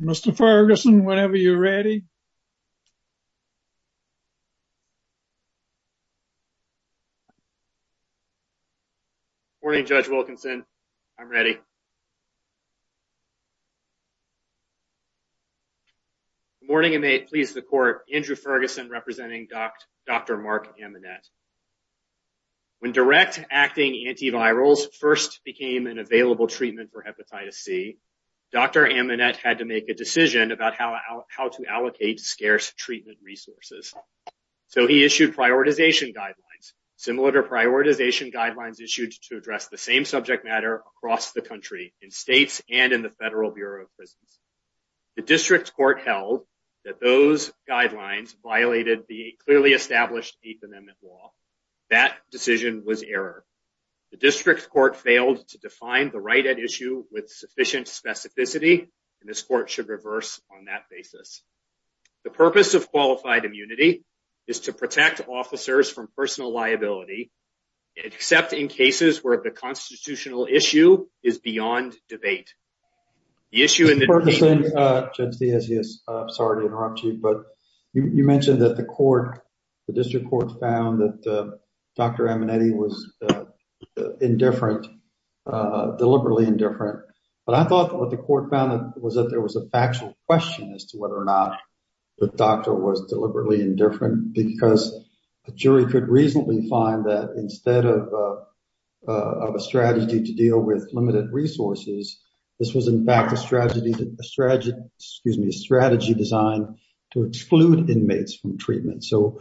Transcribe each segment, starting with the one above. Mr. Ferguson, whenever you're ready. Morning, Judge Wilkinson. I'm ready. Morning, and may it please the court, Andrew Ferguson representing Dr. Mark Amonette. When direct acting antivirals first became an available treatment for hepatitis C, Dr. Amonette had to make a decision about how to allocate scarce treatment resources. So he issued prioritization guidelines, similar to prioritization guidelines issued to address the same subject matter across the country in states and in the Federal Bureau of Prisons. The district court held that those guidelines violated the clearly established Eighth Amendment law. That decision was error. The district court failed to define the right at issue with sufficient specificity, and this court should reverse on that basis. The purpose of qualified immunity is to protect officers from personal liability, except in cases where the constitutional issue is beyond debate. The issue is, Judge DiIessius, I'm sorry to interrupt you, but you mentioned that the court, the district court found that Dr. Amonette was indifferent, deliberately indifferent. But I thought what the court found was that there was a factual question as to whether or not the doctor was deliberately indifferent, because a jury could reasonably find that instead of a strategy to deal with limited resources, this was in fact a strategy, excuse me, a strategy designed to exclude inmates from treatment. So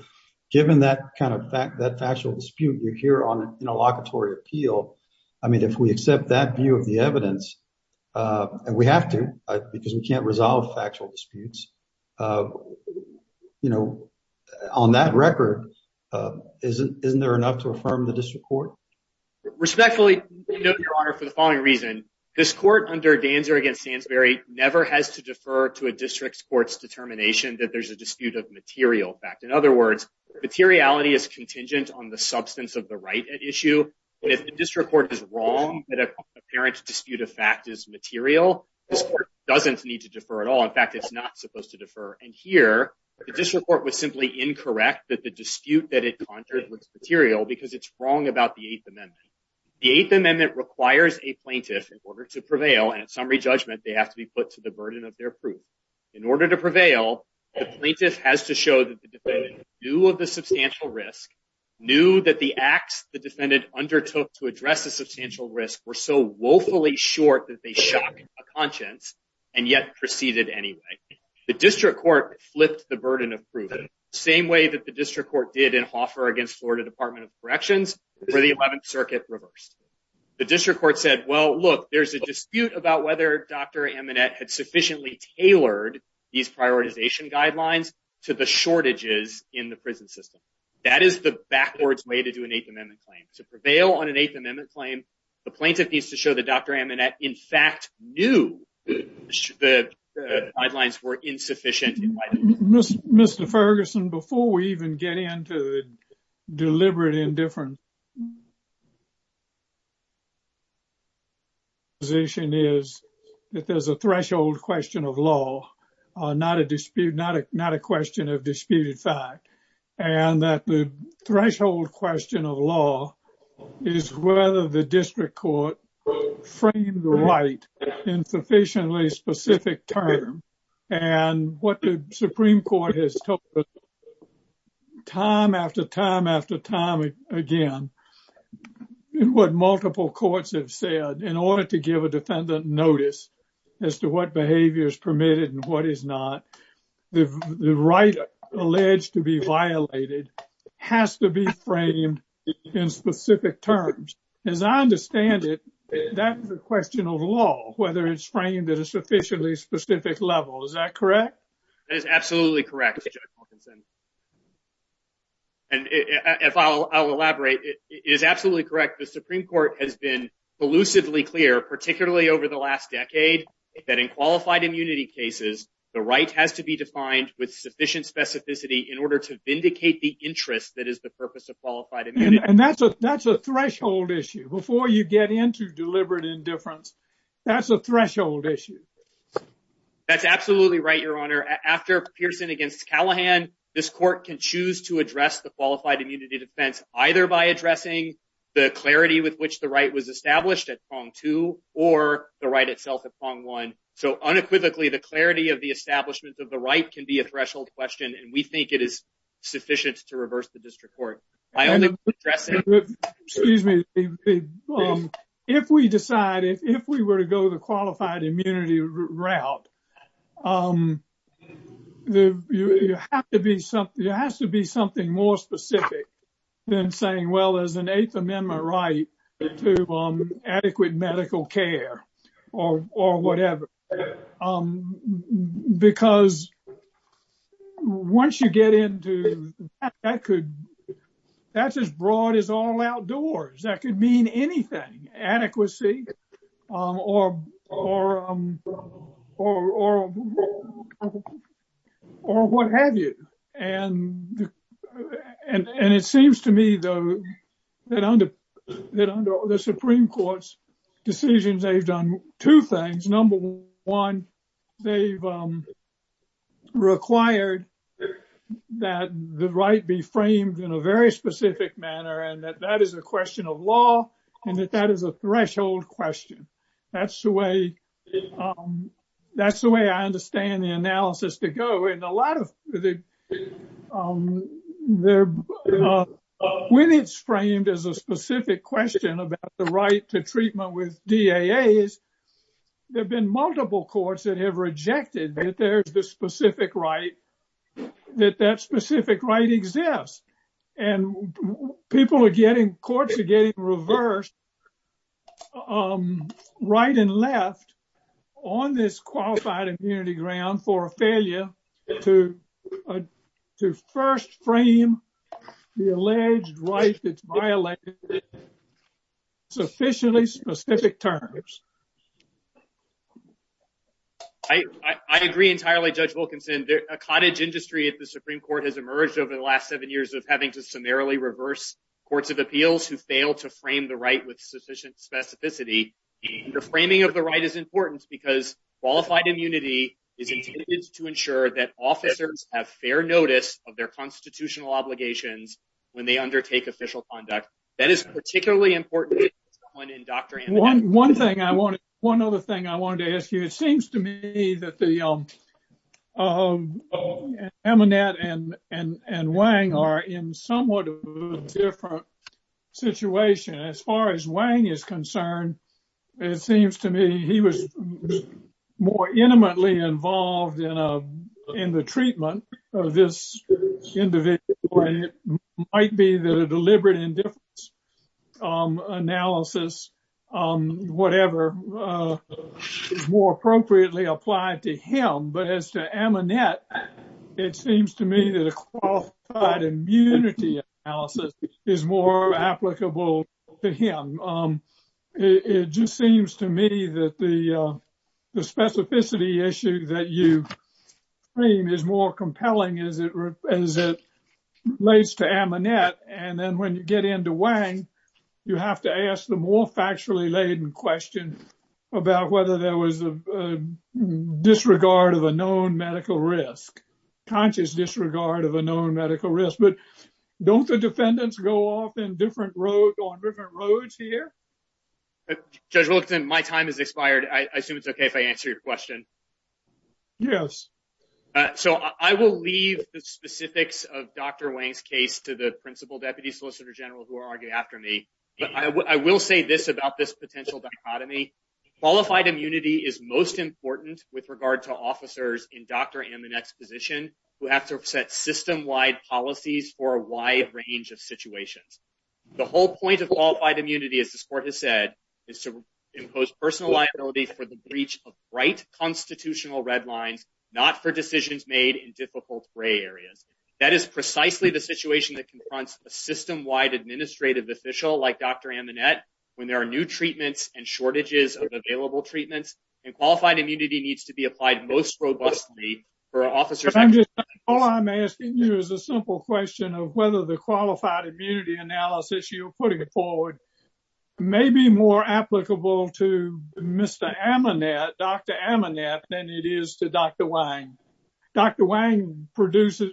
given that kind of fact, that factual dispute, we're here on an interlocutory appeal. I mean, if we accept that view of the evidence and we have to because we can't resolve factual disputes, you know, on that record, isn't isn't there enough to affirm the district court? Respectfully, Your Honor, for the following reason, this court under Danzer against Sandsbury never has to defer to a district court's determination that there's a dispute of material fact. In other words, materiality is contingent on the substance of the right at issue. But if the district court is wrong, that apparent dispute of fact is material, this court doesn't need to defer at all. In fact, it's not supposed to defer. And here, the district court was simply incorrect that the dispute that it conjured was material because it's wrong about the Eighth Amendment. The Eighth Amendment requires a plaintiff in order to prevail. And at summary judgment, they have to be put to the burden of their proof. In order to prevail, the plaintiff has to show that the defendant knew of the substantial risk, knew that the acts the defendant undertook to address the substantial risk were so woefully short that they shock a conscience and yet proceeded anyway. The district court flipped the burden of proof the same way that the district court did in Hoffer against Florida Department of Corrections where the 11th Circuit reversed. The district court said, well, look, there's a dispute about whether Dr. Amanet had sufficiently tailored these prioritization guidelines to the shortages in the prison system. That is the backwards way to do an Eighth Amendment claim. To prevail on an Eighth Amendment claim, the plaintiff needs to show that Dr. Amanet, in fact, knew the guidelines were insufficient. Mr. Ferguson, before we even get into the deliberate indifference, My position is that there's a threshold question of law, not a dispute, not a question of disputed fact, and that the threshold question of law is whether the district court framed the right in sufficiently specific terms. And what the Supreme Court has told us time after time after time again, what multiple courts have said in order to give a defendant notice as to what behavior is permitted and what is not, the right alleged to be violated has to be framed in specific terms. As I understand it, that's a question of law, whether it's framed at a sufficiently specific level. Is that correct? That is absolutely correct, Judge Wilkinson. And if I'll elaborate, it is absolutely correct. The Supreme Court has been elusively clear, particularly over the last decade, that in qualified immunity cases, the right has to be defined with sufficient specificity in order to vindicate the interest that is the purpose of qualified immunity. And that's a threshold issue. Before you get into deliberate indifference, that's a threshold issue. That's absolutely right, Your Honor. After Pearson against Callahan, this court can choose to address the qualified immunity defense either by addressing the clarity with which the right was established at prong two or the right itself at prong one. So unequivocally, the clarity of the establishment of the right can be a threshold question, and we think it is sufficient to reverse the district court. Excuse me. If we decide if we were to go the qualified immunity route, there has to be something more specific than saying, well, there's an Eighth Amendment right to adequate medical care or whatever. Because once you get into that, that's as broad as all outdoors. That could mean anything, adequacy or what have you. And it seems to me, though, that under the Supreme Court's decisions, they've done two things. Number one, they've required that the right be framed in a very specific manner and that that is a question of law and that that is a threshold question. That's the way I understand the analysis to go. When it's framed as a specific question about the right to treatment with DAAs, there have been multiple courts that have rejected that there's the specific right, that that specific right exists. And people are getting, courts are getting reversed right and left on this qualified immunity ground for a failure to to first frame the alleged right that's violated in sufficiently specific terms. I agree entirely. Judge Wilkinson, a cottage industry at the Supreme Court has emerged over the last seven years of having to summarily reverse courts of appeals who fail to frame the right with sufficient specificity. The framing of the right is important because qualified immunity is intended to ensure that officers have fair notice of their constitutional obligations when they undertake official conduct. That is particularly important in Dr. One thing I want. One other thing I wanted to ask you, it seems to me that the Emmanette and Wang are in somewhat of a different situation. As far as Wang is concerned, it seems to me he was more intimately involved in the treatment of this individual. It might be that a deliberate indifference analysis, whatever, is more appropriately applied to him. But as to Emanette, it seems to me that a qualified immunity analysis is more applicable to him. It just seems to me that the specificity issue that you frame is more compelling as it relates to Emanette. And then when you get into Wang, you have to ask the more factually laden question about whether there was a disregard of a known medical risk, conscious disregard of a known medical risk. But don't the defendants go off in different roads on different roads here? Judge Wilkinson, my time has expired. I assume it's OK if I answer your question. Yes. So I will leave the specifics of Dr. Wang's case to the principal deputy solicitor general who are after me. But I will say this about this potential dichotomy. Qualified immunity is most important with regard to officers in Dr. Emanette's position who have to set system wide policies for a wide range of situations. The whole point of qualified immunity, as this court has said, is to impose personal liability for the breach of right constitutional red lines, not for decisions made in difficult gray areas. That is precisely the situation that confronts a system wide administrative official like Dr. Emanette when there are new treatments and shortages of available treatments. And qualified immunity needs to be applied most robustly for officers. All I'm asking you is a simple question of whether the qualified immunity analysis you're putting forward may be more applicable to Mr. Emanette, Dr. Emanette than it is to Dr. Wang. Dr. Wang produces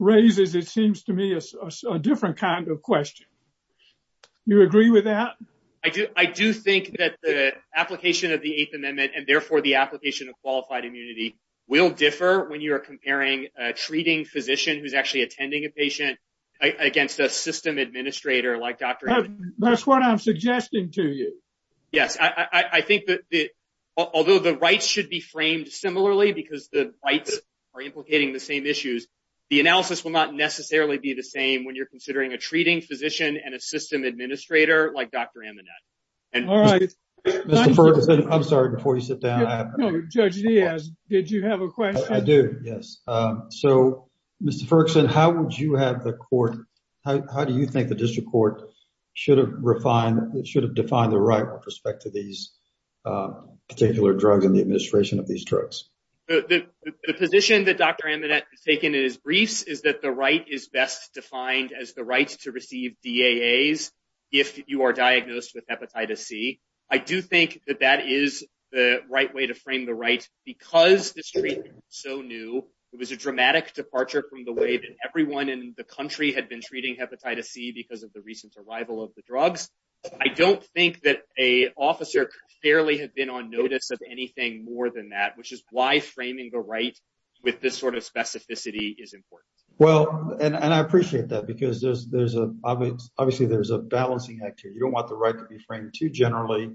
raises, it seems to me, a different kind of question. You agree with that? I do. I do think that the application of the Eighth Amendment and therefore the application of qualified immunity will differ when you are comparing a treating physician who's actually attending a patient against a system administrator like Dr. That's what I'm suggesting to you. Yes, I think that although the rights should be framed similarly because the rights are implicating the same issues. The analysis will not necessarily be the same when you're considering a treating physician and a system administrator like Dr. Emanette. All right. I'm sorry before you sit down. Judge Diaz, did you have a question? I do. Yes. So, Mr. Ferguson, how would you have the court? How do you think the district court should have defined the right with respect to these particular drugs in the administration of these drugs? The position that Dr. Emanette has taken in his briefs is that the right is best defined as the right to receive DAAs if you are diagnosed with hepatitis C. I do think that that is the right way to frame the right because this treatment is so new. There was a dramatic departure from the way that everyone in the country had been treating hepatitis C because of the recent arrival of the drugs. I don't think that a officer fairly had been on notice of anything more than that, which is why framing the right with this sort of specificity is important. Well, and I appreciate that because there's obviously there's a balancing act here. You don't want the right to be framed too generally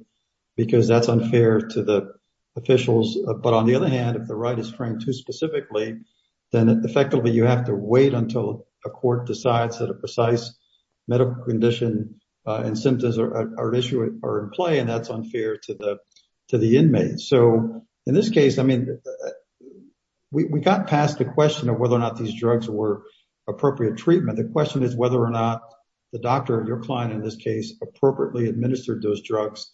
because that's unfair to the officials. But on the other hand, if the right is framed too specifically, then effectively you have to wait until a court decides that a precise medical condition and symptoms are at issue or in play. And that's unfair to the inmates. So in this case, I mean, we got past the question of whether or not these drugs were appropriate treatment. The question is whether or not the doctor, your client in this case, appropriately administered those drugs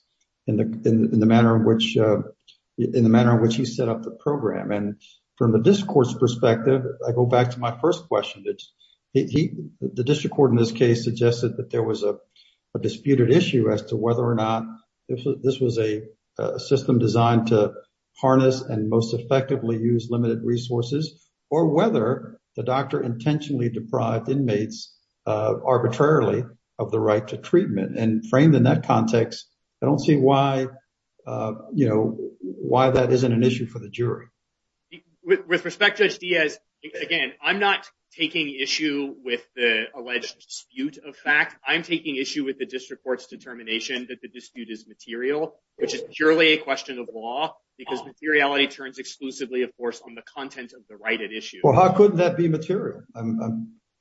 in the manner in which he set up the program. And from the district court's perspective, I go back to my first question. The district court in this case suggested that there was a disputed issue as to whether or not this was a system designed to harness and most effectively use limited resources or whether the doctor intentionally deprived inmates arbitrarily of the right to treatment. And framed in that context, I don't see why that isn't an issue for the jury. With respect, Judge Diaz, again, I'm not taking issue with the alleged dispute of fact. I'm taking issue with the district court's determination that the dispute is material, which is purely a question of law because materiality turns exclusively, of course, on the content of the right at issue. Well, how could that be material?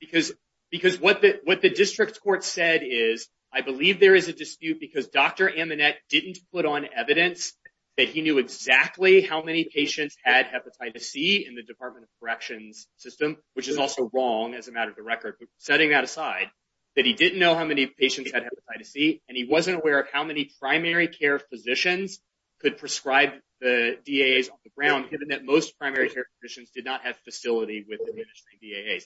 Because what the district court said is, I believe there is a dispute because Dr. Amanat didn't put on evidence that he knew exactly how many patients had hepatitis C in the Department of Corrections system, which is also wrong as a matter of the record. Setting that aside, that he didn't know how many patients had hepatitis C, and he wasn't aware of how many primary care physicians could prescribe the DAAs on the ground, given that most primary care physicians did not have facility with the DAAs.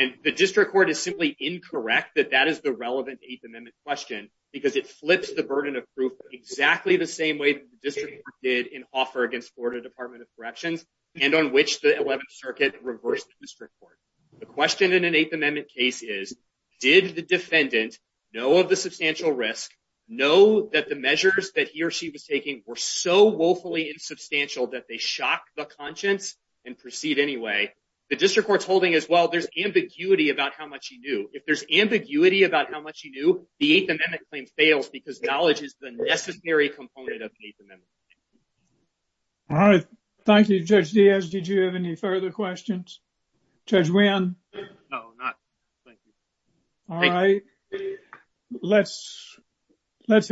And the district court is simply incorrect that that is the relevant Eighth Amendment question because it flips the burden of proof exactly the same way the district court did in offer against Florida Department of Corrections and on which the 11th Circuit reversed the district court. The question in an Eighth Amendment case is, did the defendant know of the substantial risk, know that the measures that he or she was taking were so woefully insubstantial that they shock the conscience and proceed anyway? The district court's holding is, well, there's ambiguity about how much he knew. If there's ambiguity about how much he knew, the Eighth Amendment claim fails because knowledge is the necessary component of the Eighth Amendment. All right. Thank you, Judge Diaz. Did you have any further questions? Judge Wynn? No, not, thank you. All right. Let's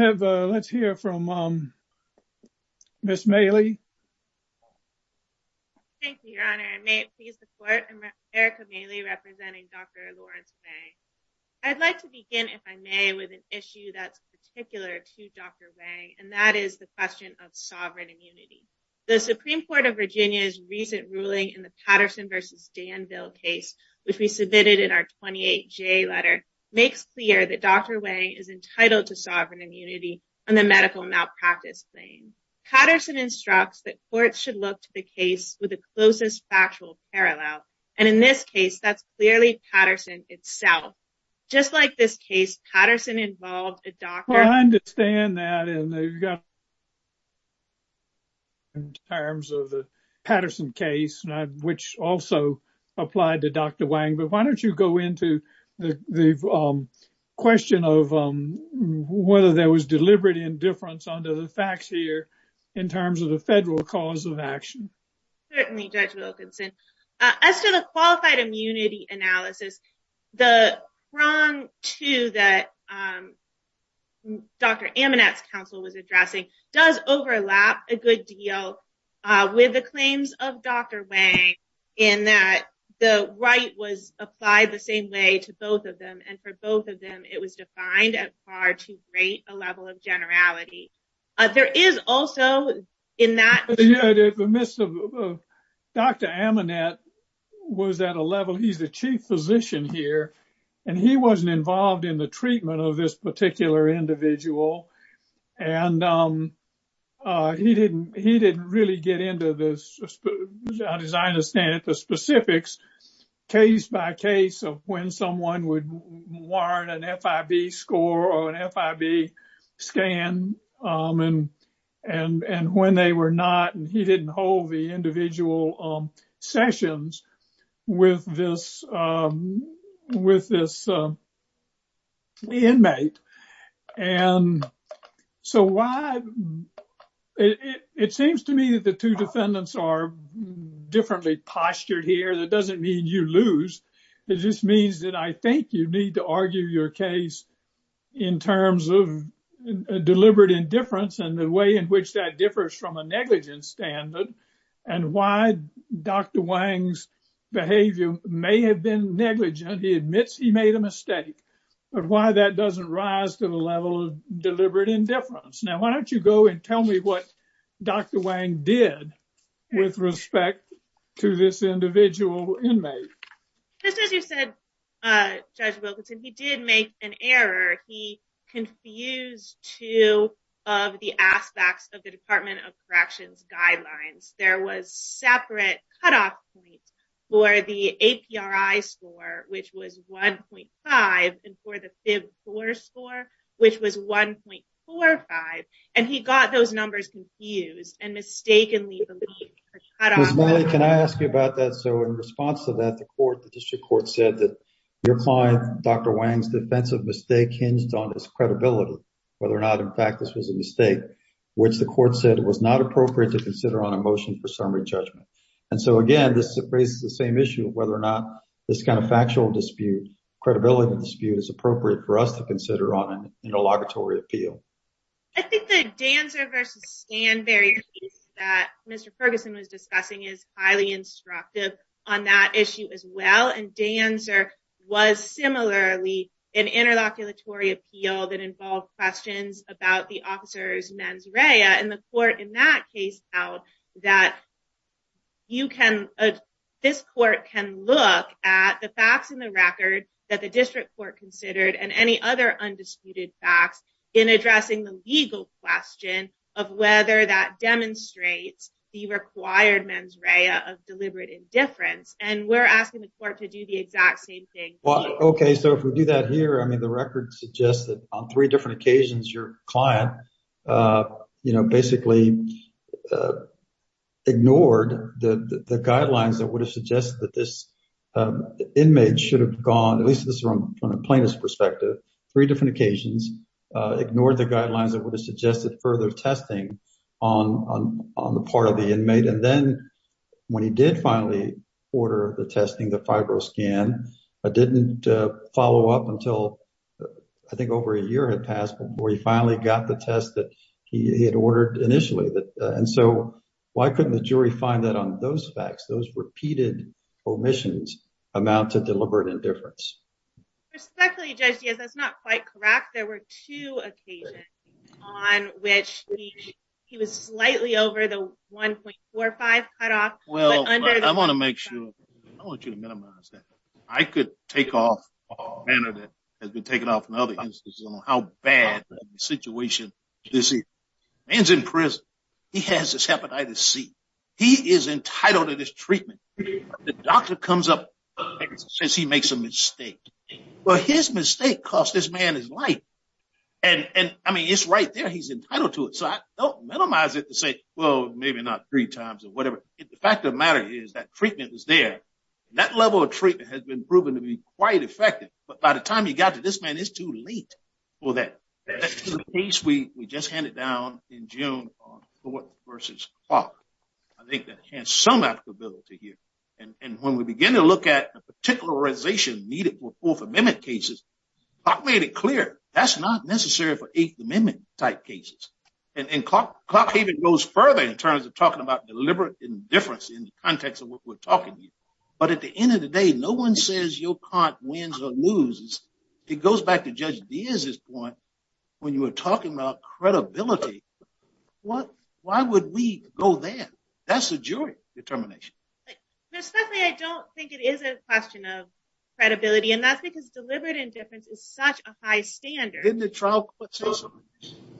hear from Ms. Mailey. Thank you, Your Honor. May it please the court, I'm Erica Mailey representing Dr. Lawrence Wang. I'd like to begin, if I may, with an issue that's particular to Dr. Wang, and that is the question of sovereign immunity. The Supreme Court of Virginia's recent ruling in the Patterson v. Danville case, which we submitted in our 28J letter, makes clear that Dr. Wang is entitled to sovereign immunity on the medical malpractice claim. Patterson instructs that courts should look to the case with the closest factual parallel. And in this case, that's clearly Patterson itself. Just like this case, Patterson involved a doctor... ...in terms of the Patterson case, which also applied to Dr. Wang. But why don't you go into the question of whether there was deliberate indifference under the facts here in terms of the federal cause of action. Certainly, Judge Wilkinson. As to the qualified immunity analysis, the prong, too, that Dr. Amanat's counsel was addressing does overlap a good deal with the claims of Dr. Wang in that the right was applied the same way to both of them, and for both of them, it was defined at far too great a level of generality. There is also in that... Dr. Amanat was at a level, he's the chief physician here, and he wasn't involved in the treatment of this particular individual. And he didn't really get into the specifics, case by case, of when someone would warrant an FIB score or an FIB scan, and when they were not, and he didn't hold the individual sessions with this inmate. And so why... It seems to me that the two defendants are differently postured here. That doesn't mean you lose. It just means that I think you need to argue your case in terms of deliberate indifference and the way in which that differs from a negligence standard and why Dr. Wang's behavior may have been negligent. He admits he made a mistake. But why that doesn't rise to the level of deliberate indifference? Now, why don't you go and tell me what Dr. Wang did with respect to this individual inmate? Just as you said, Judge Wilkinson, he did make an error. He confused two of the aspects of the Department of Corrections guidelines. There was separate cutoff points for the APRI score, which was 1.5, and for the FIB score, which was 1.45. And he got those numbers confused and mistakenly believed a cutoff point. Ms. Milley, can I ask you about that? So in response to that, the district court said that your client, Dr. Wang's defensive mistake hinged on his credibility, whether or not, in fact, this was a mistake, which the court said it was not appropriate to consider on a motion for summary judgment. And so, again, this raises the same issue of whether or not this kind of factual dispute, credibility dispute, is appropriate for us to consider on an interlocutory appeal. I think the Danzer v. Stanberry case that Mr. Ferguson was discussing is highly instructive on that issue as well. And Danzer was similarly an interlocutory appeal that involved questions about the officer's mens rea. And the court in that case held that this court can look at the facts in the record that the district court considered and any other undisputed facts in addressing the legal question of whether that demonstrates the required mens rea of deliberate indifference. And we're asking the court to do the exact same thing here. Okay, so if we do that here, I mean, the record suggests that on three different occasions, your client basically ignored the guidelines that would have suggested that this inmate should have gone, at least from a plaintiff's perspective, three different occasions, ignored the guidelines that would have suggested further testing on the part of the inmate. And then when he did finally order the testing, the fibroscan, it didn't follow up until I think over a year had passed before he finally got the test that he had ordered initially. And so why couldn't the jury find that on those facts, those repeated omissions amount to deliberate indifference? Respectfully, Judge Diaz, that's not quite correct. There were two occasions on which he was slightly over the 1.45 cutoff. Well, I want to make sure, I want you to minimize that. I could take off a manner that has been taken off in other instances on how bad the situation is. A man's in prison, he has his hepatitis C, he is entitled to this treatment. The doctor comes up and says he makes a mistake. Well, his mistake cost this man his life. And I mean, it's right there, he's entitled to it. So I don't minimize it to say, well, maybe not three times or whatever. The fact of the matter is that treatment was there. That level of treatment has been proven to be quite effective. But by the time you got to this man, it's too late for that. That's the case we just handed down in June on Fort versus Clark. I think that has some applicability here. And when we begin to look at the particularization needed for Fourth Amendment cases, Clark made it clear that's not necessary for Eighth Amendment type cases. And Clark even goes further in terms of talking about deliberate indifference in the context of what we're talking about. But at the end of the day, no one says your client wins or loses. It goes back to Judge Diaz's point when you were talking about credibility. Why would we go there? That's the jury determination. Ms. Buckley, I don't think it is a question of credibility. And that's because deliberate indifference is such a high standard. Didn't the trial court say so?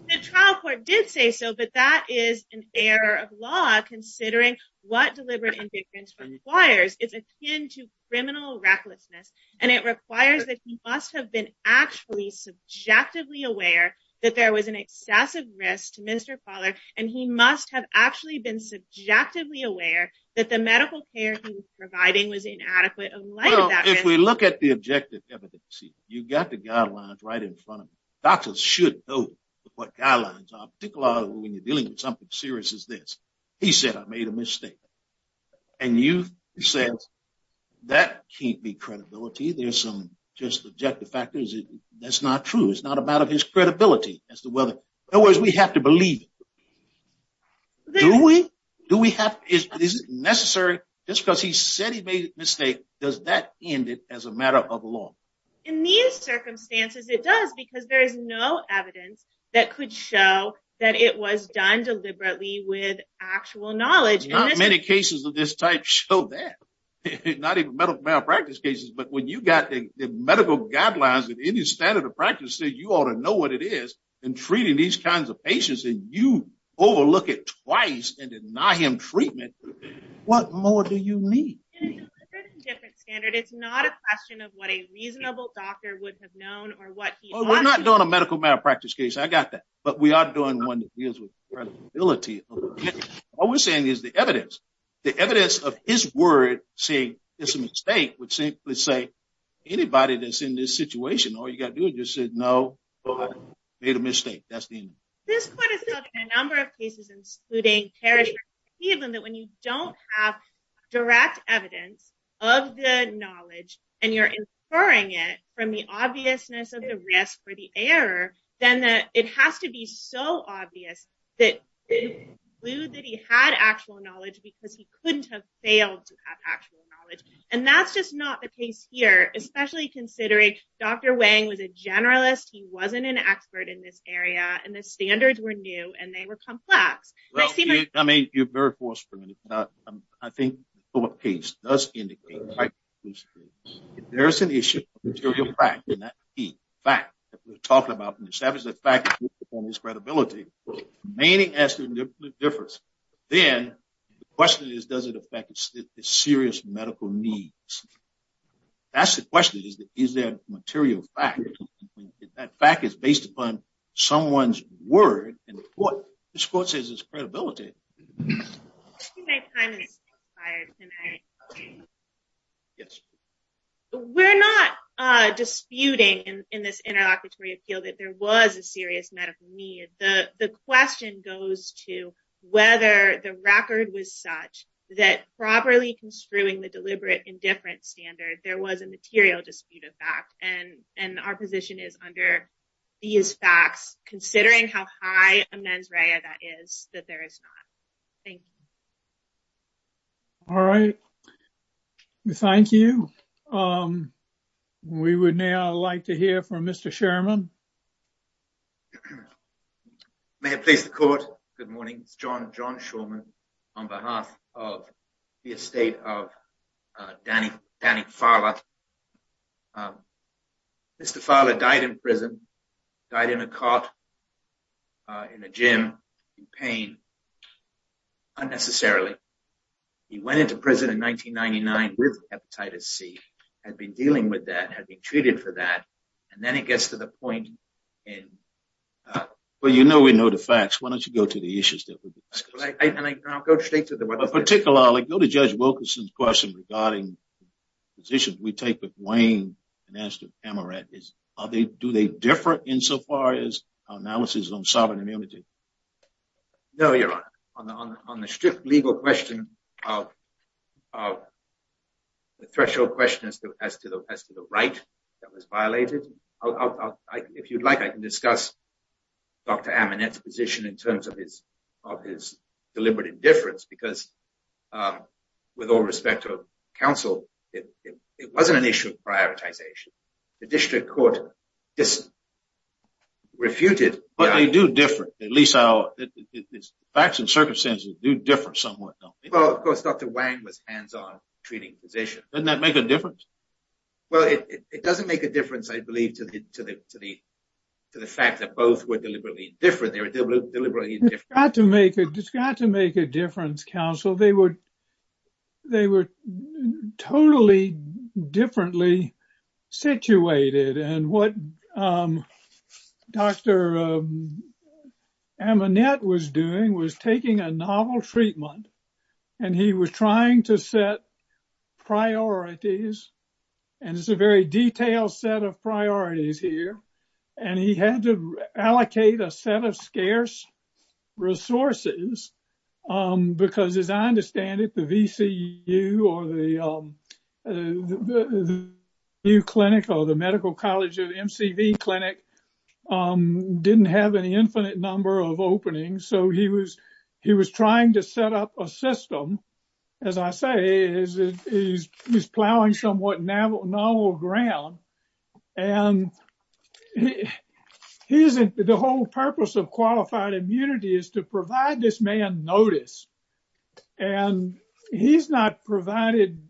The trial court did say so, but that is an error of law considering what deliberate indifference requires. It's akin to criminal recklessness. And it requires that he must have been actually subjectively aware that there was an excessive risk to Mr. Fowler. And he must have actually been subjectively aware that the medical care he was providing was inadequate in light of that risk. If we look at the objective evidence, you've got the guidelines right in front of you. Doctors should know what guidelines are, particularly when you're dealing with something as serious as this. He said, I made a mistake. And you said, that can't be credibility. There's some just objective factors. That's not true. It's not a matter of his credibility. In other words, we have to believe it. Do we? Is it necessary? Just because he said he made a mistake, does that end it as a matter of law? In these circumstances, it does, because there is no evidence that could show that it was done deliberately with actual knowledge. And many cases of this type show that. Not even medical malpractice cases, but when you've got the medical guidelines and any standard of practice, you ought to know what it is in treating these kinds of patients. And you overlook it twice and deny him treatment. What more do you need? It's a different standard. It's not a question of what a reasonable doctor would have known. We're not doing a medical malpractice case. I got that. But we are doing one that deals with credibility. What we're saying is the evidence. The evidence of his word saying it's a mistake would simply say, anybody that's in this situation, all you've got to do is just say, no, I made a mistake. That's the end of it. This puts us in a number of cases, including Parish versus Cleveland, that when you don't have direct evidence of the knowledge and you're inferring it from the obviousness of the risk or the error, then it has to be so obvious that it would conclude that he had actual knowledge because he couldn't have failed to have actual knowledge. And that's just not the case here, especially considering Dr. Wang was a generalist. He wasn't an expert in this area. And the standards were new and they were complex. I mean, you're very forthcoming. I think what the case does indicate, if there's an issue of material fact, and that's key, fact, that we're talking about, and establish that fact on this credibility, meaning as to the difference, then the question is, does it affect the serious medical needs? That's the question. Is there material fact? If that fact is based upon someone's word, and the court says it's credibility. I think my time is expired tonight. Yes. We're not disputing in this interlocutory appeal that there was a serious medical need. The question goes to whether the record was such that properly construing the deliberate indifference standard, there was a material dispute of fact. And our position is under these facts, considering how high a mens rea that is, that there is not. Thank you. All right. Thank you. We would now like to hear from Mr. Sherman. May I place the court? Good morning, it's John Sherman, on behalf of the estate of Danny Farlow. Mr. Farlow died in prison, died in a cot, in a gym, in pain, unnecessarily. He went into prison in 1999 with Hepatitis C, had been dealing with that, had been treated for that, and then it gets to the point in... Well, you know we know the facts. Why don't you go to the issues? I'll go straight to the... Go to Judge Wilkinson's question regarding the position we take with Wayne, and as to Amarette. Do they differ insofar as our analysis on sovereign immunity? No, Your Honor. On the strict legal question of the threshold question as to the right that was violated, if you'd like I can discuss Dr. Amarette's position in terms of his deliberate indifference, because with all respect to counsel, it wasn't an issue of prioritization. The district court refuted... But they do differ. The facts and circumstances do differ somewhat, don't they? Well, of course, Dr. Wayne was a hands-on treating physician. Doesn't that make a difference? Well, it doesn't make a difference, I believe, to the fact that both were deliberately indifferent. It's got to make a difference, counsel. They were totally differently situated, and what Dr. Amarette was doing was taking a novel treatment, and he was trying to set priorities. And it's a very detailed set of priorities here. And he had to allocate a set of scarce resources, because as I understand it, the VCU or the Medical College of MCV Clinic didn't have an infinite number of openings. So he was trying to set up a system. As I say, he's plowing somewhat novel ground. And the whole purpose of qualified immunity is to provide this man notice. And he's not provided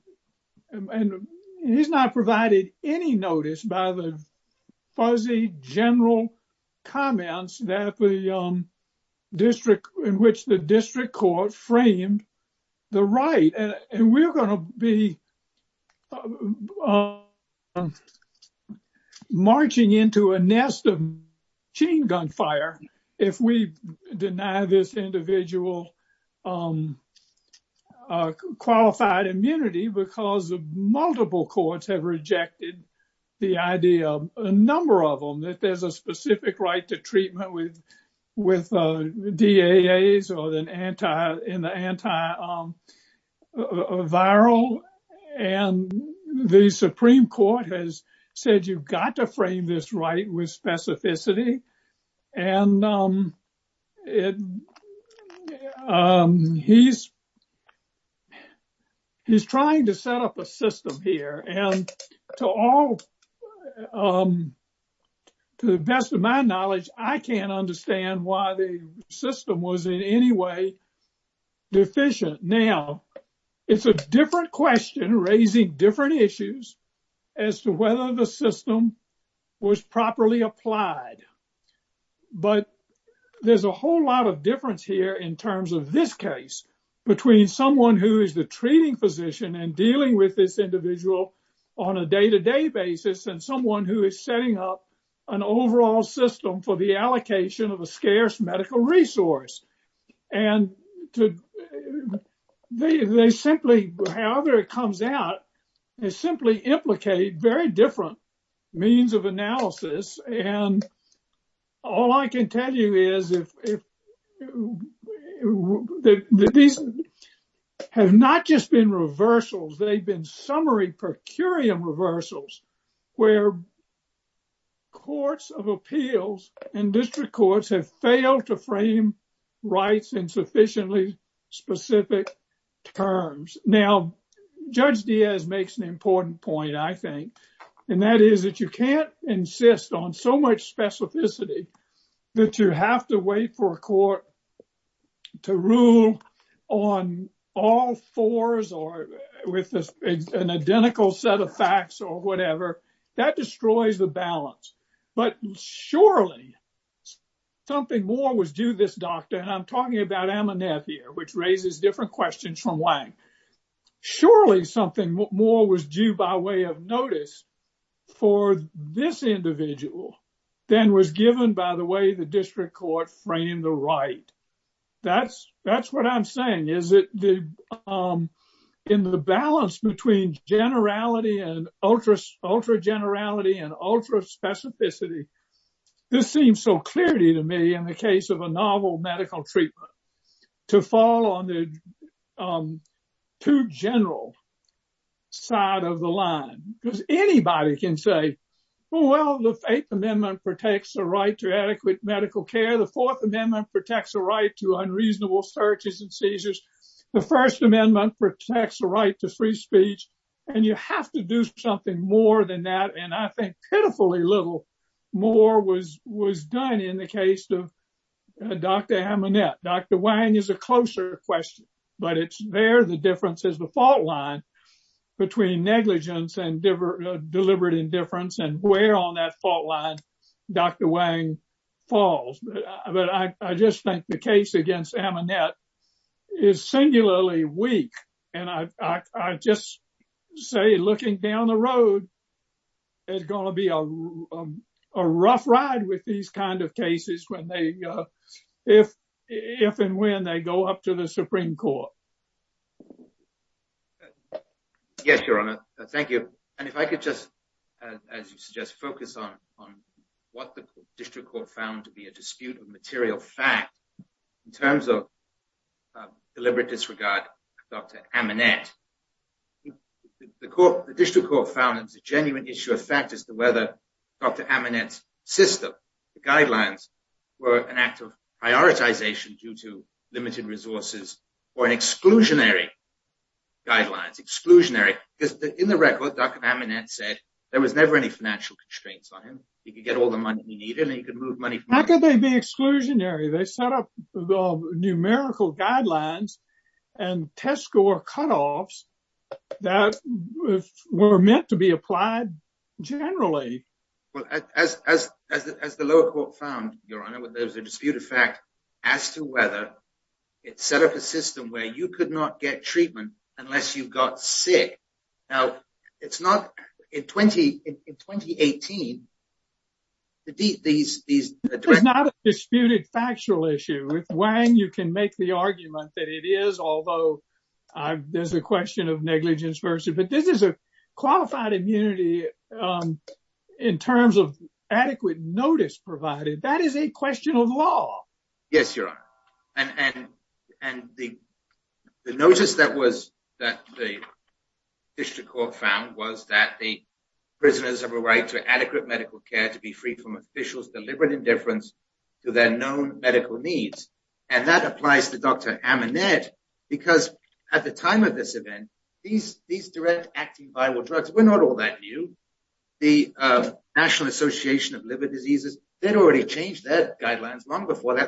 any notice by the fuzzy general comments that the district in which the district court framed the right. And we're going to be marching into a nest of machine gunfire if we deny this individual qualified immunity because multiple courts have rejected the idea, a number of them, that there's a specific right to treatment with DAAs or in the antiviral. And the Supreme Court has said, you've got to frame this right with specificity. And he's he's trying to set up a system here. And to all to the best of my knowledge, I can't understand why the system was in any way deficient. Now, it's a different question raising different issues as to whether the system was properly applied. But there's a whole lot of difference here in terms of this case between someone who is the treating physician and dealing with this individual on a day-to-day basis and someone who is setting up an overall system for the allocation of a scarce medical resource. And they simply however it comes out is simply implicate very different means of analysis. And all I can tell you is that these have not just been reversals. They've been summary per curiam reversals where courts of appeals and district courts have failed to frame rights in sufficiently specific terms. Now, Judge Diaz makes an important point I think and that is that you can't insist on so much specificity that you have to wait for a court to rule on all fours or all three what I'm saying. I'm saying that with an identical set of facts or whatever that destroys the balance. But surely something more was due this doctor and I'm talking about Aminef here which raises different questions from Wang. Surely something more was due by way of notice for this individual than was given by the way the district court framed the right. That's what I'm saying. In the balance between generality and ultra generality and ultra specificity this seems so clear to me in the other side of the line because anybody can say well the eighth amendment protects the right to adequate medical care. The fourth amendment protects the right to unreasonable searches and seizures. The first amendment protects the right to free speech and you have to do something more than that and I think that's the difference between negligence and deliberate indifference and where on that fault line Dr. Wang falls. I just think the case against Ammonette is singularly weak and I just say looking down the road it's going to be a rough ride with these kind of cases where they if and when they go up to the Supreme Court. If I could just focus on what the District Court found to be a dispute of material fact in terms of deliberate disregard of Dr. Ammonette. The District Court found it's a dispute terms of deliberate disregard of Dr. Ammonette. District Court found to be a dispute of material fact in terms of deliberate disregard of Dr. Ammonette. And I think that's one And the District Court found it's a dispute of fact as to whether it set up a system where you could not get treatment early stage. And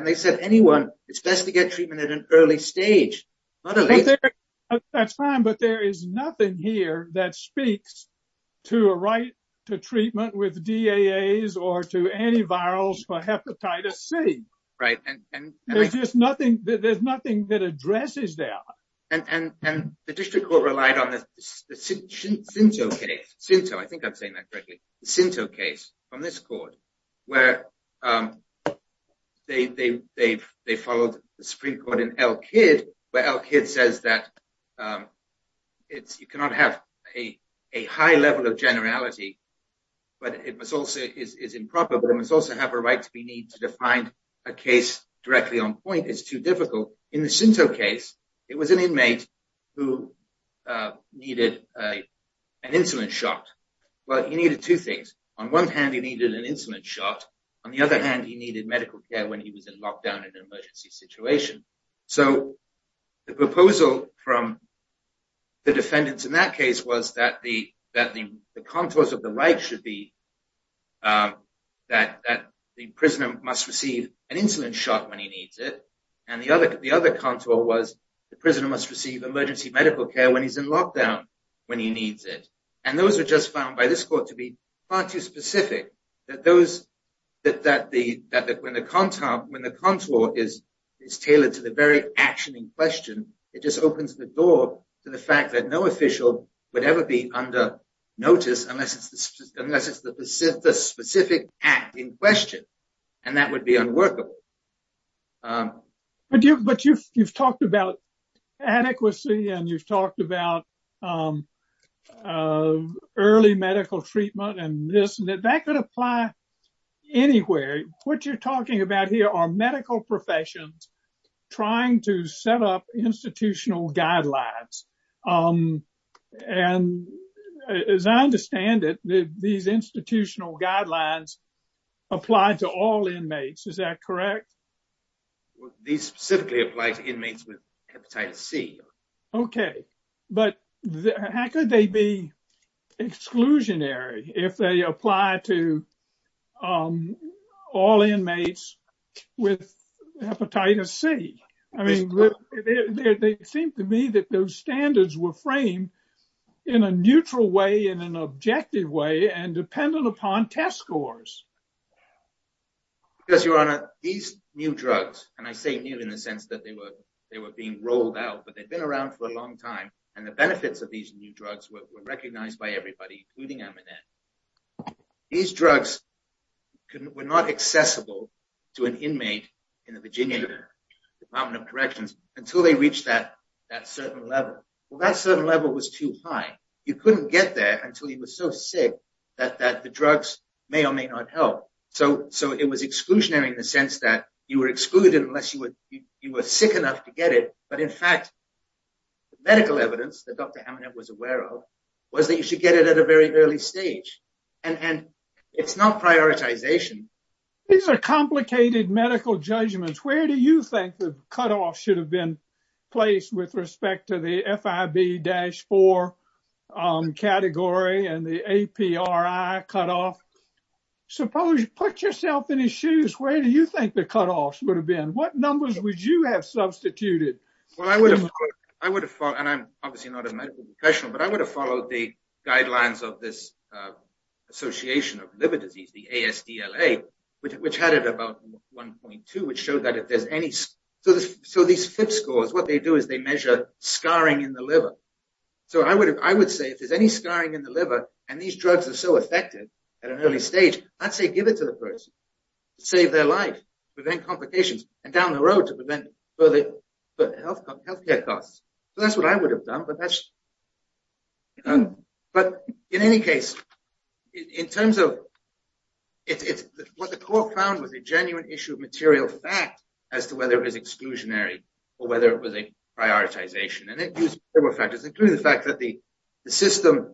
they said anyone, it's best to get treatment at an early stage. There's nothing here that speaks to a right to treatment with DAAs or antivirals for hepatitis C. There's nothing that addresses that. And the District Court relied on the Sinto case on this court they followed the Supreme Court in Elkid where Elkid says you cannot have a high level of generality but it is improper but it is too difficult. In the Sinto it was an inmate who needed an insulin shot. He needed medical care when he was in lockdown and emergency medical care when he needed it. Those were found to be far too specific. When the contour is tailored to the very action in question it opens the door to the fact that no official would ever be under notice unless it is the specific act in question and that would be unworkable. But you have talked about adequacy and you have talked about early medical treatment and this and that could apply anywhere. What you are talking about are medical professions trying to set up institutional guidelines. As I understand it, these institutional guidelines apply to all inmates. Is that correct? These specifically apply to inmates with hepatitis C. How could they be exclusionary if they apply to all inmates with hepatitis C? They seem to me that those standards were framed in a neutral way and an objective way and dependent upon test scores. These new drugs, and I say new in the sense that they were being rolled out but they have been around for a long time and the benefits were recognized by everybody including Amanet, these drugs were not accessible to an inmate in the Virginia Department of Corrections until they reached that certain level. That certain level was too high. You couldn't get there until you were so sick that the drugs may or may not help. So it was exclusionary in the sense that you were excluded unless you were sick enough to get it. But in fact, medical evidence Amanet was aware of was that you should get it at a very early stage. And it's not prioritization. These are complicated things. I'm not a medical professional, but I would have followed the guidelines of this association of liver disease, the ASDLA, which had it about 1.2, which showed that if there's any so these scores, they measure scarring in the liver. I would say if there's any scarring in the liver and these drugs are so effective at an early stage, I'd say give it to the person to save their life and down the road to prevent further health care costs. That's what I would have done. But in any case, in terms of what the court found was a genuine issue of material fact as to whether it was exclusionary or a prioritization. The system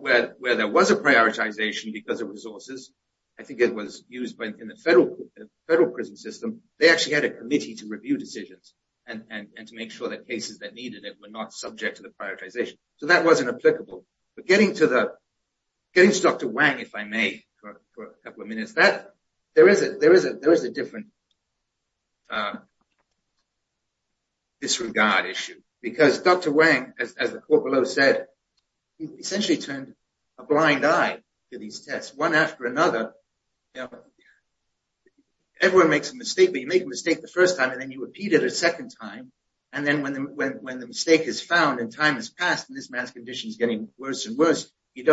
where there was a prioritization because of resources, I think it was used in the federal prison system, they had a committee to review decisions and make sure cases were not subject to prioritization. So that wasn't applicable. But getting to Dr. Wang, if I may, for a couple of minutes, there is a different disregard issue. Because Dr. Wang, as the court below said, essentially turned a blind eye to these tests. One after another, everyone makes a mistake, but you make a mistake the first time and you repeat it a second time. When the mistake is found and time has passed, you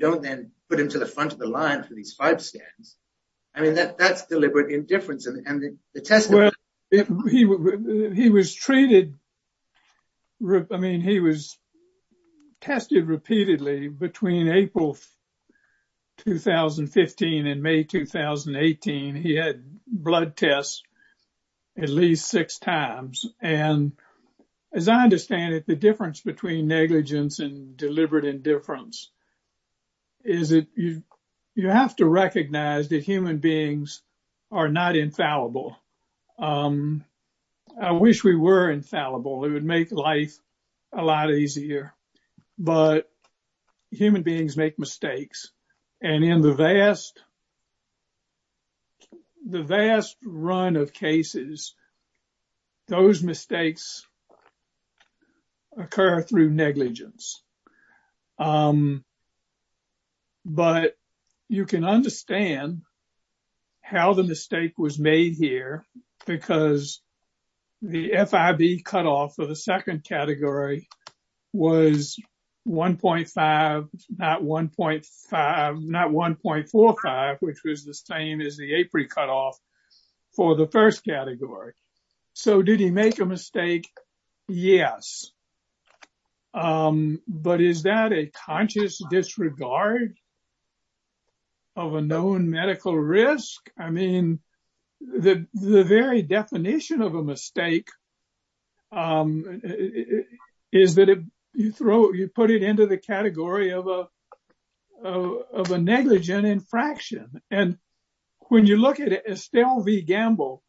don't put him to the front of the line for these five scans. That's deliberate indifference. He was treated, I mean, he was tested repeatedly between April 2015 and May 2018. He had blood tests at least six times. And as I understand it, the difference between negligence and deliberate indifference is that you have to recognize that human beings are not infallible. I wish we were infallible. It would make life a lot easier. But human beings make mistakes. And in the vast run of cases, those mistakes occur through negligence. But you can understand how the mistake was made here because the FIB cut off of the second category was 1.5, not 1.5, not 1.45, which was the same as the APRE cut off for the first category. So did he make a mistake? Yes. But is that a conscious disregard of a known medical risk? I mean, the very definition of a mistake is that you put it into the category of a negligent infraction. And when you look at Estelle V. Gamble,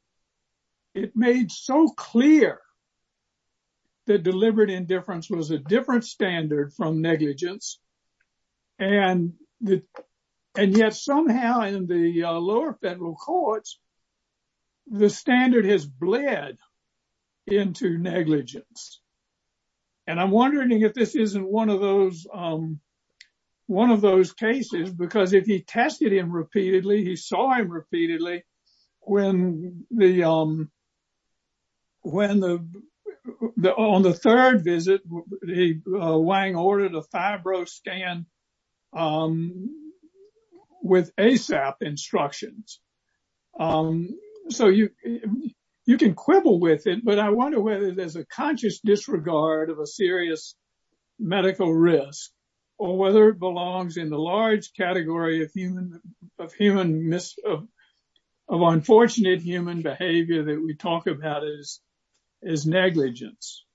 it made so clear that deliberate indifference was a different standard from negligence. And yet somehow in the lower federal courts, the standard has bled into negligence. And I'm wondering if this isn't one of those cases, because if he tested him repeatedly, he saw him repeatedly when the on the third visit, Wang ordered a Fibro scan with ASAP instructions. So you can quibble with it, but I wonder whether there's a conscious disregard of a serious medical risk or whether it belongs in the large category of unfortunate human behavior that we talk about as negligence.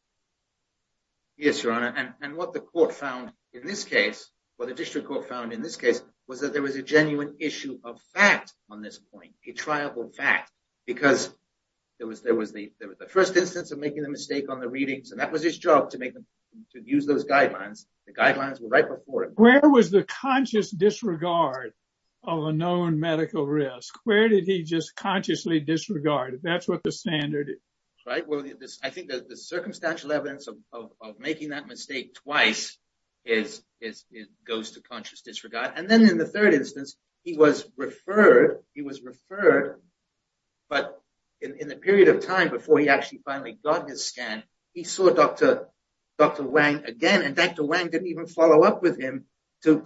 Yes, Your Honor. And what the court found in this case, what the district court found in this case, was that there was a genuine issue of fact on this point, a triable fact, because there was the first instance of making the mistake on the readings, and that was his job to use those guidelines. The guidelines were right before him. So where was the conscious disregard of a known medical risk? Where did he just consciously disregard it? That's what the standard is. Right, well, I think the circumstantial evidence of making that mistake twice goes to conscious disregard. And then in the third instance, he was referred, he was referred, but in the period of time before he finally got his scan, he saw Dr. Wang again, and Dr. Wang didn't follow up with him to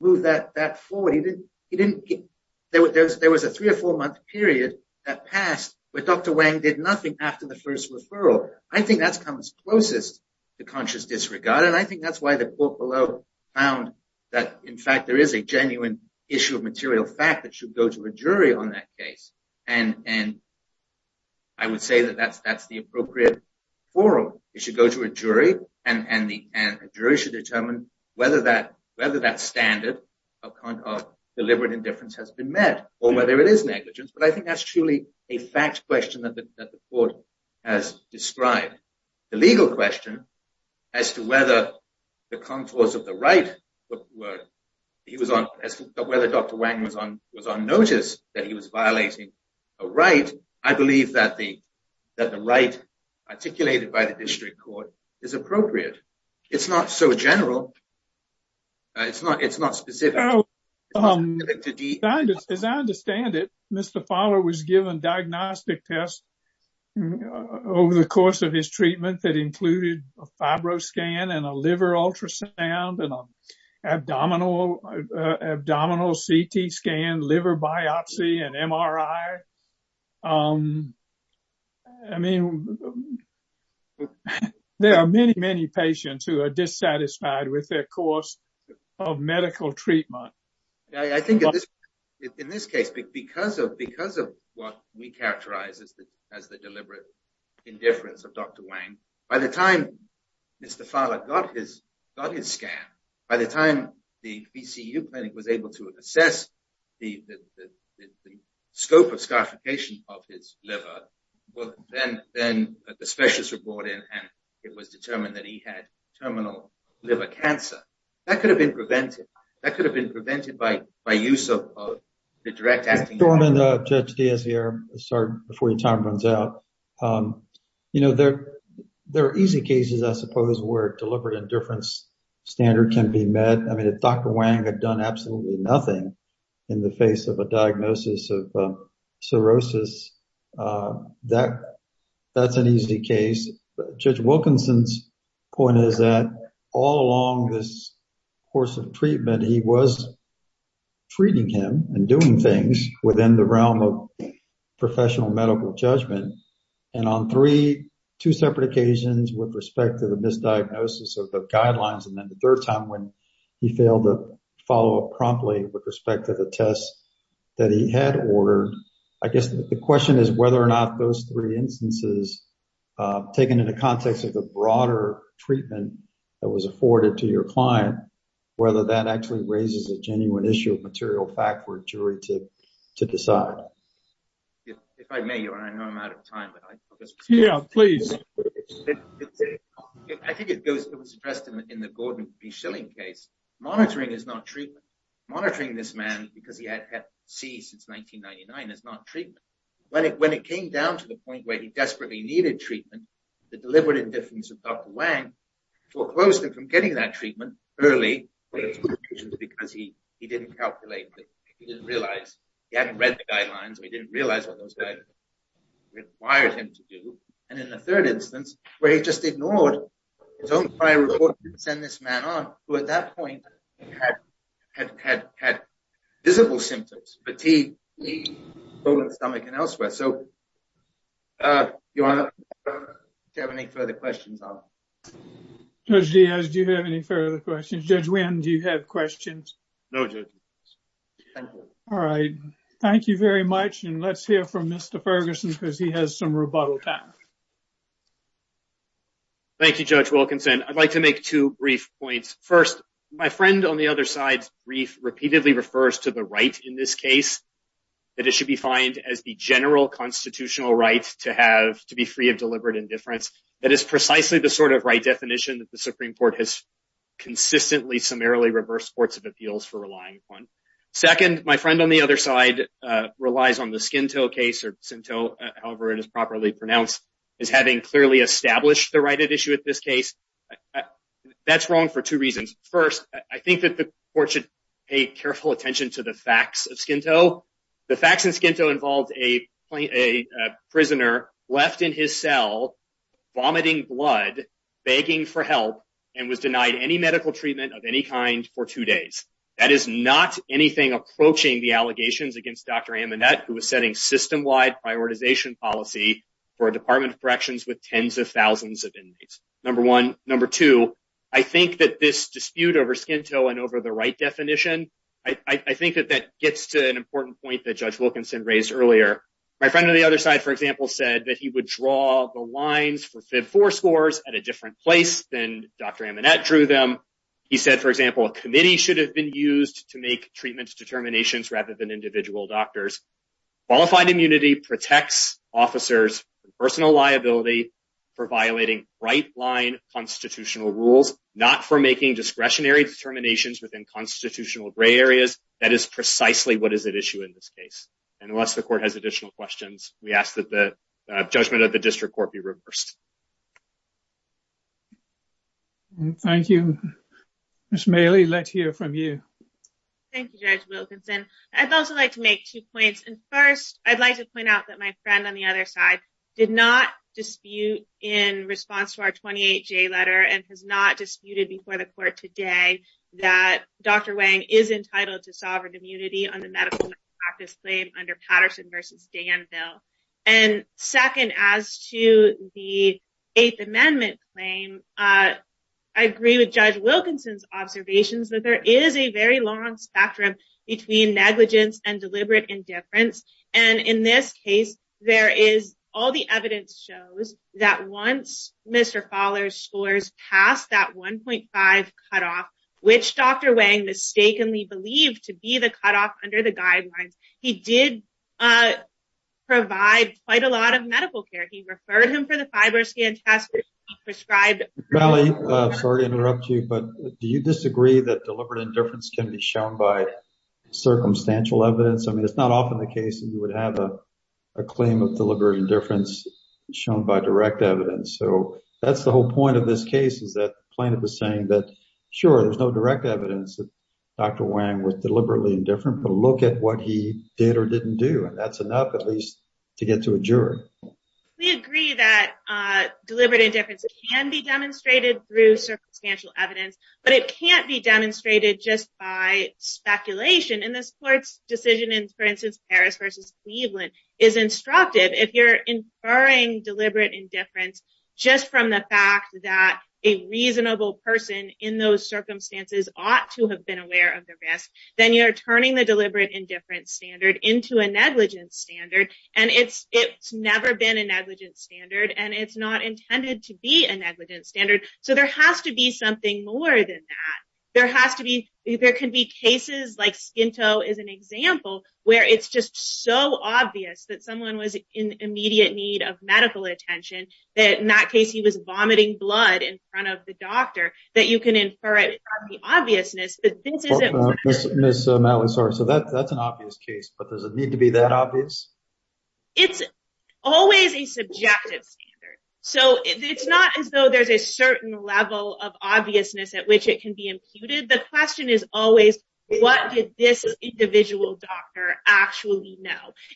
move that forward. There was a three or four-month period that passed, but Dr. Wang did nothing after the first referral. I think that comes closest to conscious disregard, and I think that's why the court below found that in fact there is a genuine issue of material fact that should go to a jury on that case, and I would say that that's the appropriate forum. It should go to a jury, and a jury should determine whether that standard of deliberate indifference has been met, or whether it is negligence, but I think that's truly a fact question that the court has described. The legal question as to whether the contours of the right, whether Dr. Wang was on notice that he was violating a right, I believe that the right articulated by the court was not right, but I think that the court has given a diagnostic test over the course of his treatment that included a fibro scan, a liver ultrasound, an abdominal CT scan, liver biopsy, and MRI. I mean, there are many, many patients who are dissatisfied with their course of medical treatment. I think in this case, because of what we characterize as the deliberate indifference of Dr. Wang, by the time Mr. Fowler got his scan, by the time the VCU was brought in and it was determined that he had terminal liver cancer, that could have been prevented by the use of the direct acting... There are easy cases I suppose where deliberate indifference standard can be met. I mean, if Dr. Wang had done absolutely nothing in the face of a diagnosis of cirrhosis, that's an easy case. Judge Wilkinson's point is that all along this course of treatment, he was treating him and doing things within the realm of professional medical judgment, and on three, two separate occasions with respect to the misdiagnosis of the guidelines, and then the third time when he failed to follow up promptly with respect to the tests that he had ordered, I guess the question is whether or not those three instances, taken in the context of the broader treatment that was afforded to your client, whether that actually raises a genuine issue of material fact for a jury to decide. If I may, your Honor, I know I'm out of time. Yeah, please. I think it was addressed in the Gordon B. Schilling case. Monitoring is not treatment. Monitoring this man because he had Hep C since 1999 is not treatment. When it was not treatment, he didn't calculate it. He didn't realize when those guidelines required him to do. In the third instance where he just ignored his own prior report to send this man on, who at that point had visible symptoms, fatigue, stomach and elsewhere. Do you have any further questions? Do you have any further questions? Judge Wynn, do you have questions? Thank you very much. Let's hear from Mr. Ferguson. He has some rebuttal time. I would like to make two brief points. First, my friend on the other side repeatedly refers to the right in this case as the general constitutional right to be free of deliberate indifference. That is the right definition that the Supreme Court has consistently reversed for. Second, my friend on the other side repeatedly refers to the right in this case as the general constitutional be free indifference. That is the right definition that the Supreme Court has consistently reversed for. Third, my friend on the other side repeatedly refers to the right in this case as the general constitutional right to be free of deliberate That is the right definition that the Supreme Court has consistently reversed for. Fourth, my friend on the other side repeatedly refers to the right in this case as the general constitutional right to be free of deliberate That is the right definition Supreme Court has consistently reversed for. repeatedly refers to the right in this case as the general constitutional right to be free of deliberate That is the right definition that the Supreme Court reversed for. Fifth, my friend on the repeatedly refers to the right case as the general constitutional right to be free of deliberate That is the right definition that the Supreme Court has consistently reversed for. Second, as to the Eighth Amendment claim, I agree with Judge Wilkinson's observations that there is a very long spectrum between negligence and deliberate indifference. In this case, all the evidence shows that once Mr. Fowler's scores passed that 1.5 cutoff, which Dr. Wang mistakenly believed to be the cutoff under the guidelines, he did provide quite a lot of medical care. He referred the Fibroscan test. Do you disagree that deliberate indifference can be shown by circumstantial evidence? It is not often the case that there is no direct evidence that Dr. Wang was deliberately indifferent, but look at what he did or didn't do. That is enough to get to a jury. We agree that deliberate indifference can be demonstrated through circumstantial evidence, but it can't be demonstrated just by speculation. If you are inferring deliberate indifference just from the fact that a reasonable person in those circumstances ought to have been aware of the risk, are turning the deliberate indifference into a negligent standard. It has never been a negligent standard and it is not intended to be a negligent standard. It is an example where it is so obvious that someone was in immediate need of medical attention that in that case he was vomiting blood in front of the doctor that you can infer it from the obviousness. It is always a subjective standard. It is always a subjective standard. The question is always, what did this individual doctor actually know?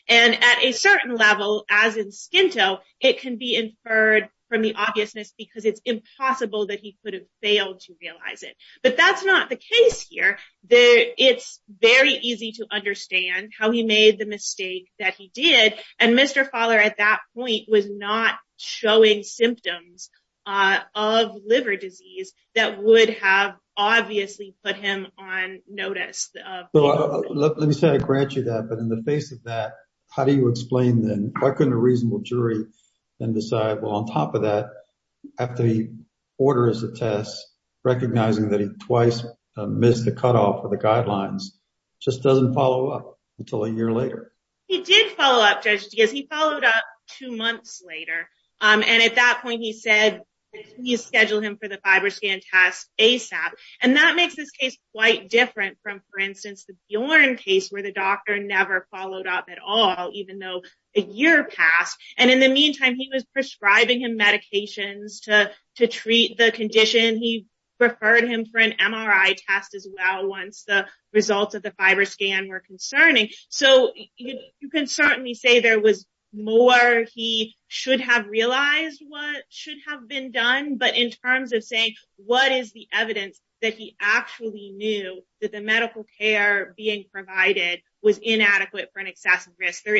At a certain level, it can be inferred from the obviousness because it is impossible that he could have failed to realize it. That is not the case here. It is very easy to understand how he made the mistake that he did. Mr. Fowler at that point was not showing symptoms of liver disease that would have obviously put him on notice. In the face of that, how do you explain that? Why couldn't a reasonable jury decide that? On top of that, recognizing twice missed the cutoff of the guidelines, it just doesn't follow up until a year later. He did follow up two months later. At that point, he said schedule him for the FibroScan test ASAP. That makes this case quite different from the Bjorn case where the doctor never followed up at all. In the meantime, he was prescribing medications to treat the condition. He referred him for an MRI test as well. You can certainly say there was more he should have realized what should have been done, but in terms of saying what is the case, there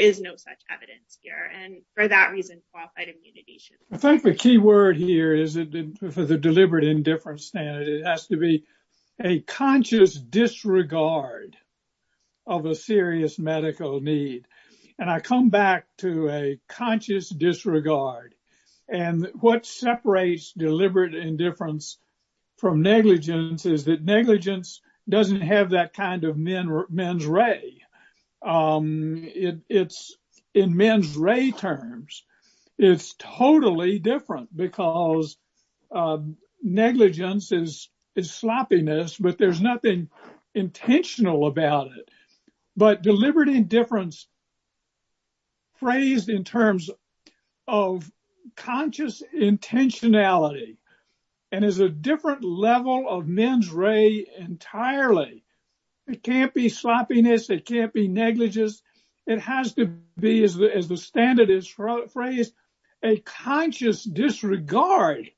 is no such evidence here. For that reason, qualified immunity should be provided. I think the key word is deliberate indifference. It has to be a conscious disregard of a serious medical need. I come back to a conscious disregard. What separates deliberate indifference from indifference is a different kind of men's ray. In men's ray terms, it is totally different because negligence is sloppiness, but there is nothing intentional about it. Deliberate indifference is phrased in terms of conscious intentionality and is a different level of men's ray entirely. It can't be sloppiness or negligence. It has to be a conscious disregard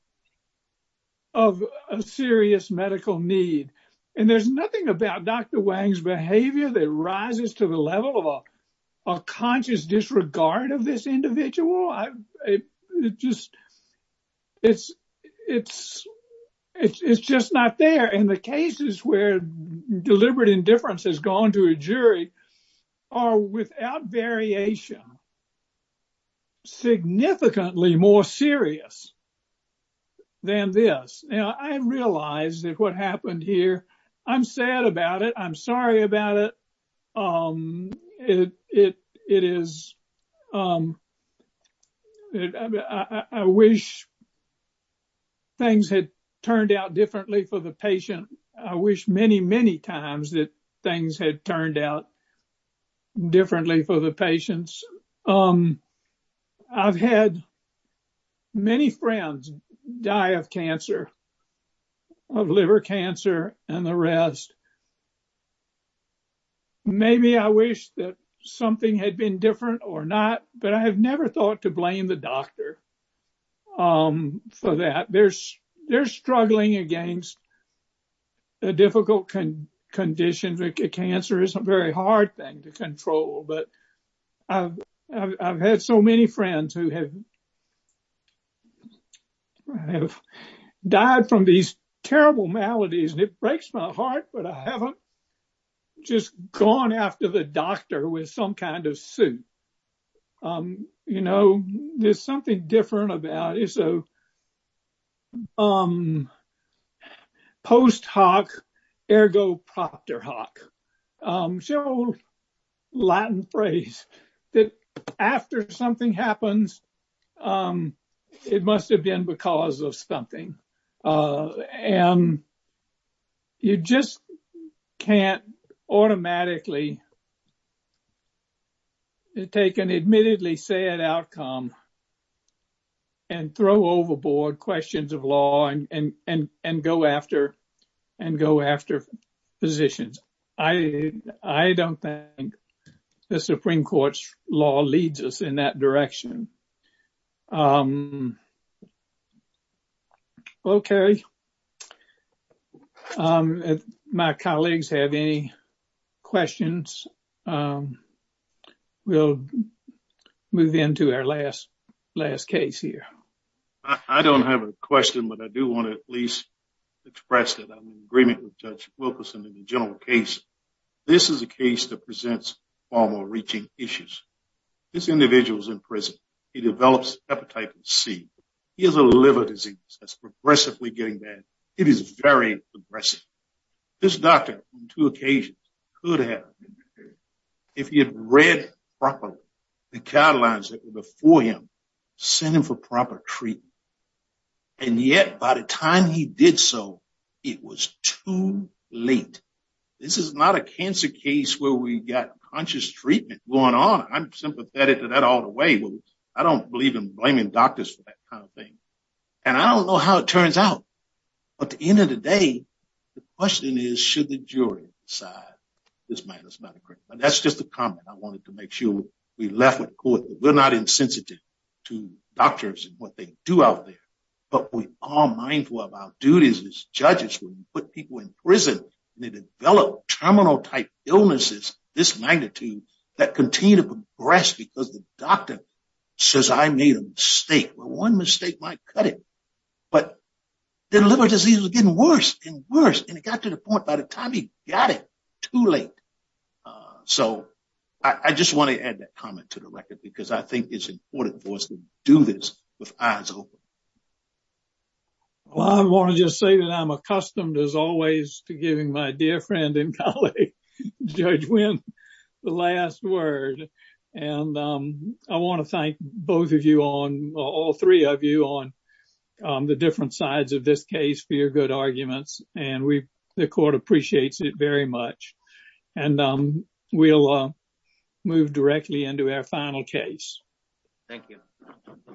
of a serious medical need. There is nothing about Dr. Wang's behavior that rises to the level of a conscious disregard of this individual. It's just not there, and the cases where deliberate indifference has gone to a jury are, without variation, significantly more serious than this. I realize that what happened here, I'm sad about it. I'm sorry about it. It is I wish things had turned out differently for the patient. I wish many, many times that things had turned out differently for the patients. I've had many friends die of cancer, of liver cancer, and the rest. Maybe I wish that something had been different or not, but I have never thought to blame the doctor for that. They're struggling against the difficult conditions. Cancer is a very hard thing to control, but I've had so many friends who have died from these terrible maladies, and it breaks my heart, but I haven't just gone after the doctor with some kind of suit. There's something different about it. It's a post hoc ergo proctor hoc. It's an old Latin phrase, that after something happens, it must have been because of something. And you just can't automatically take an admittedly sad outcome and throw overboard questions of law and go after physicians. I don't think the Supreme Court's law leads us in that direction. Okay. If my colleagues have any questions, we'll move into our last case here. I don't have a question, but I do want to at least express that I'm in agreement with Judge Wilkerson in the general case. This is a case that presents far more reaching issues. This individual is in prison. He develops Hepatitis C. He has a liver disease that's progressively getting bad. It is very aggressive. This doctor, on two occasions, could have been prepared if he had read properly the guidelines that were before him and sent him for proper treatment. Yet, by the time he did so, it was too late. This is not a cancer case where we have conscious treatment. I don't believe in blaming doctors for that kind of thing. I don't know how it turns out, but at the end of the day, the question is why should the jury decide this? That's just a comment. We're not insensitive to doctors and what they do out there, but we are mindful of our duties as judges when we put people in prison and develop terminal type illnesses that continue to progress because the doctor says I made a mistake. One mistake might cut it, but the liver disease was getting worse and worse and it got to the point by the time he got it too late. I just want to add that comment to the record because I don't good argument. I think it's the last word. I want to thank both of you, all three of you, on the different sides of this case for your good arguments. The court appreciates it very much. We'll move directly into our final case. Thank you.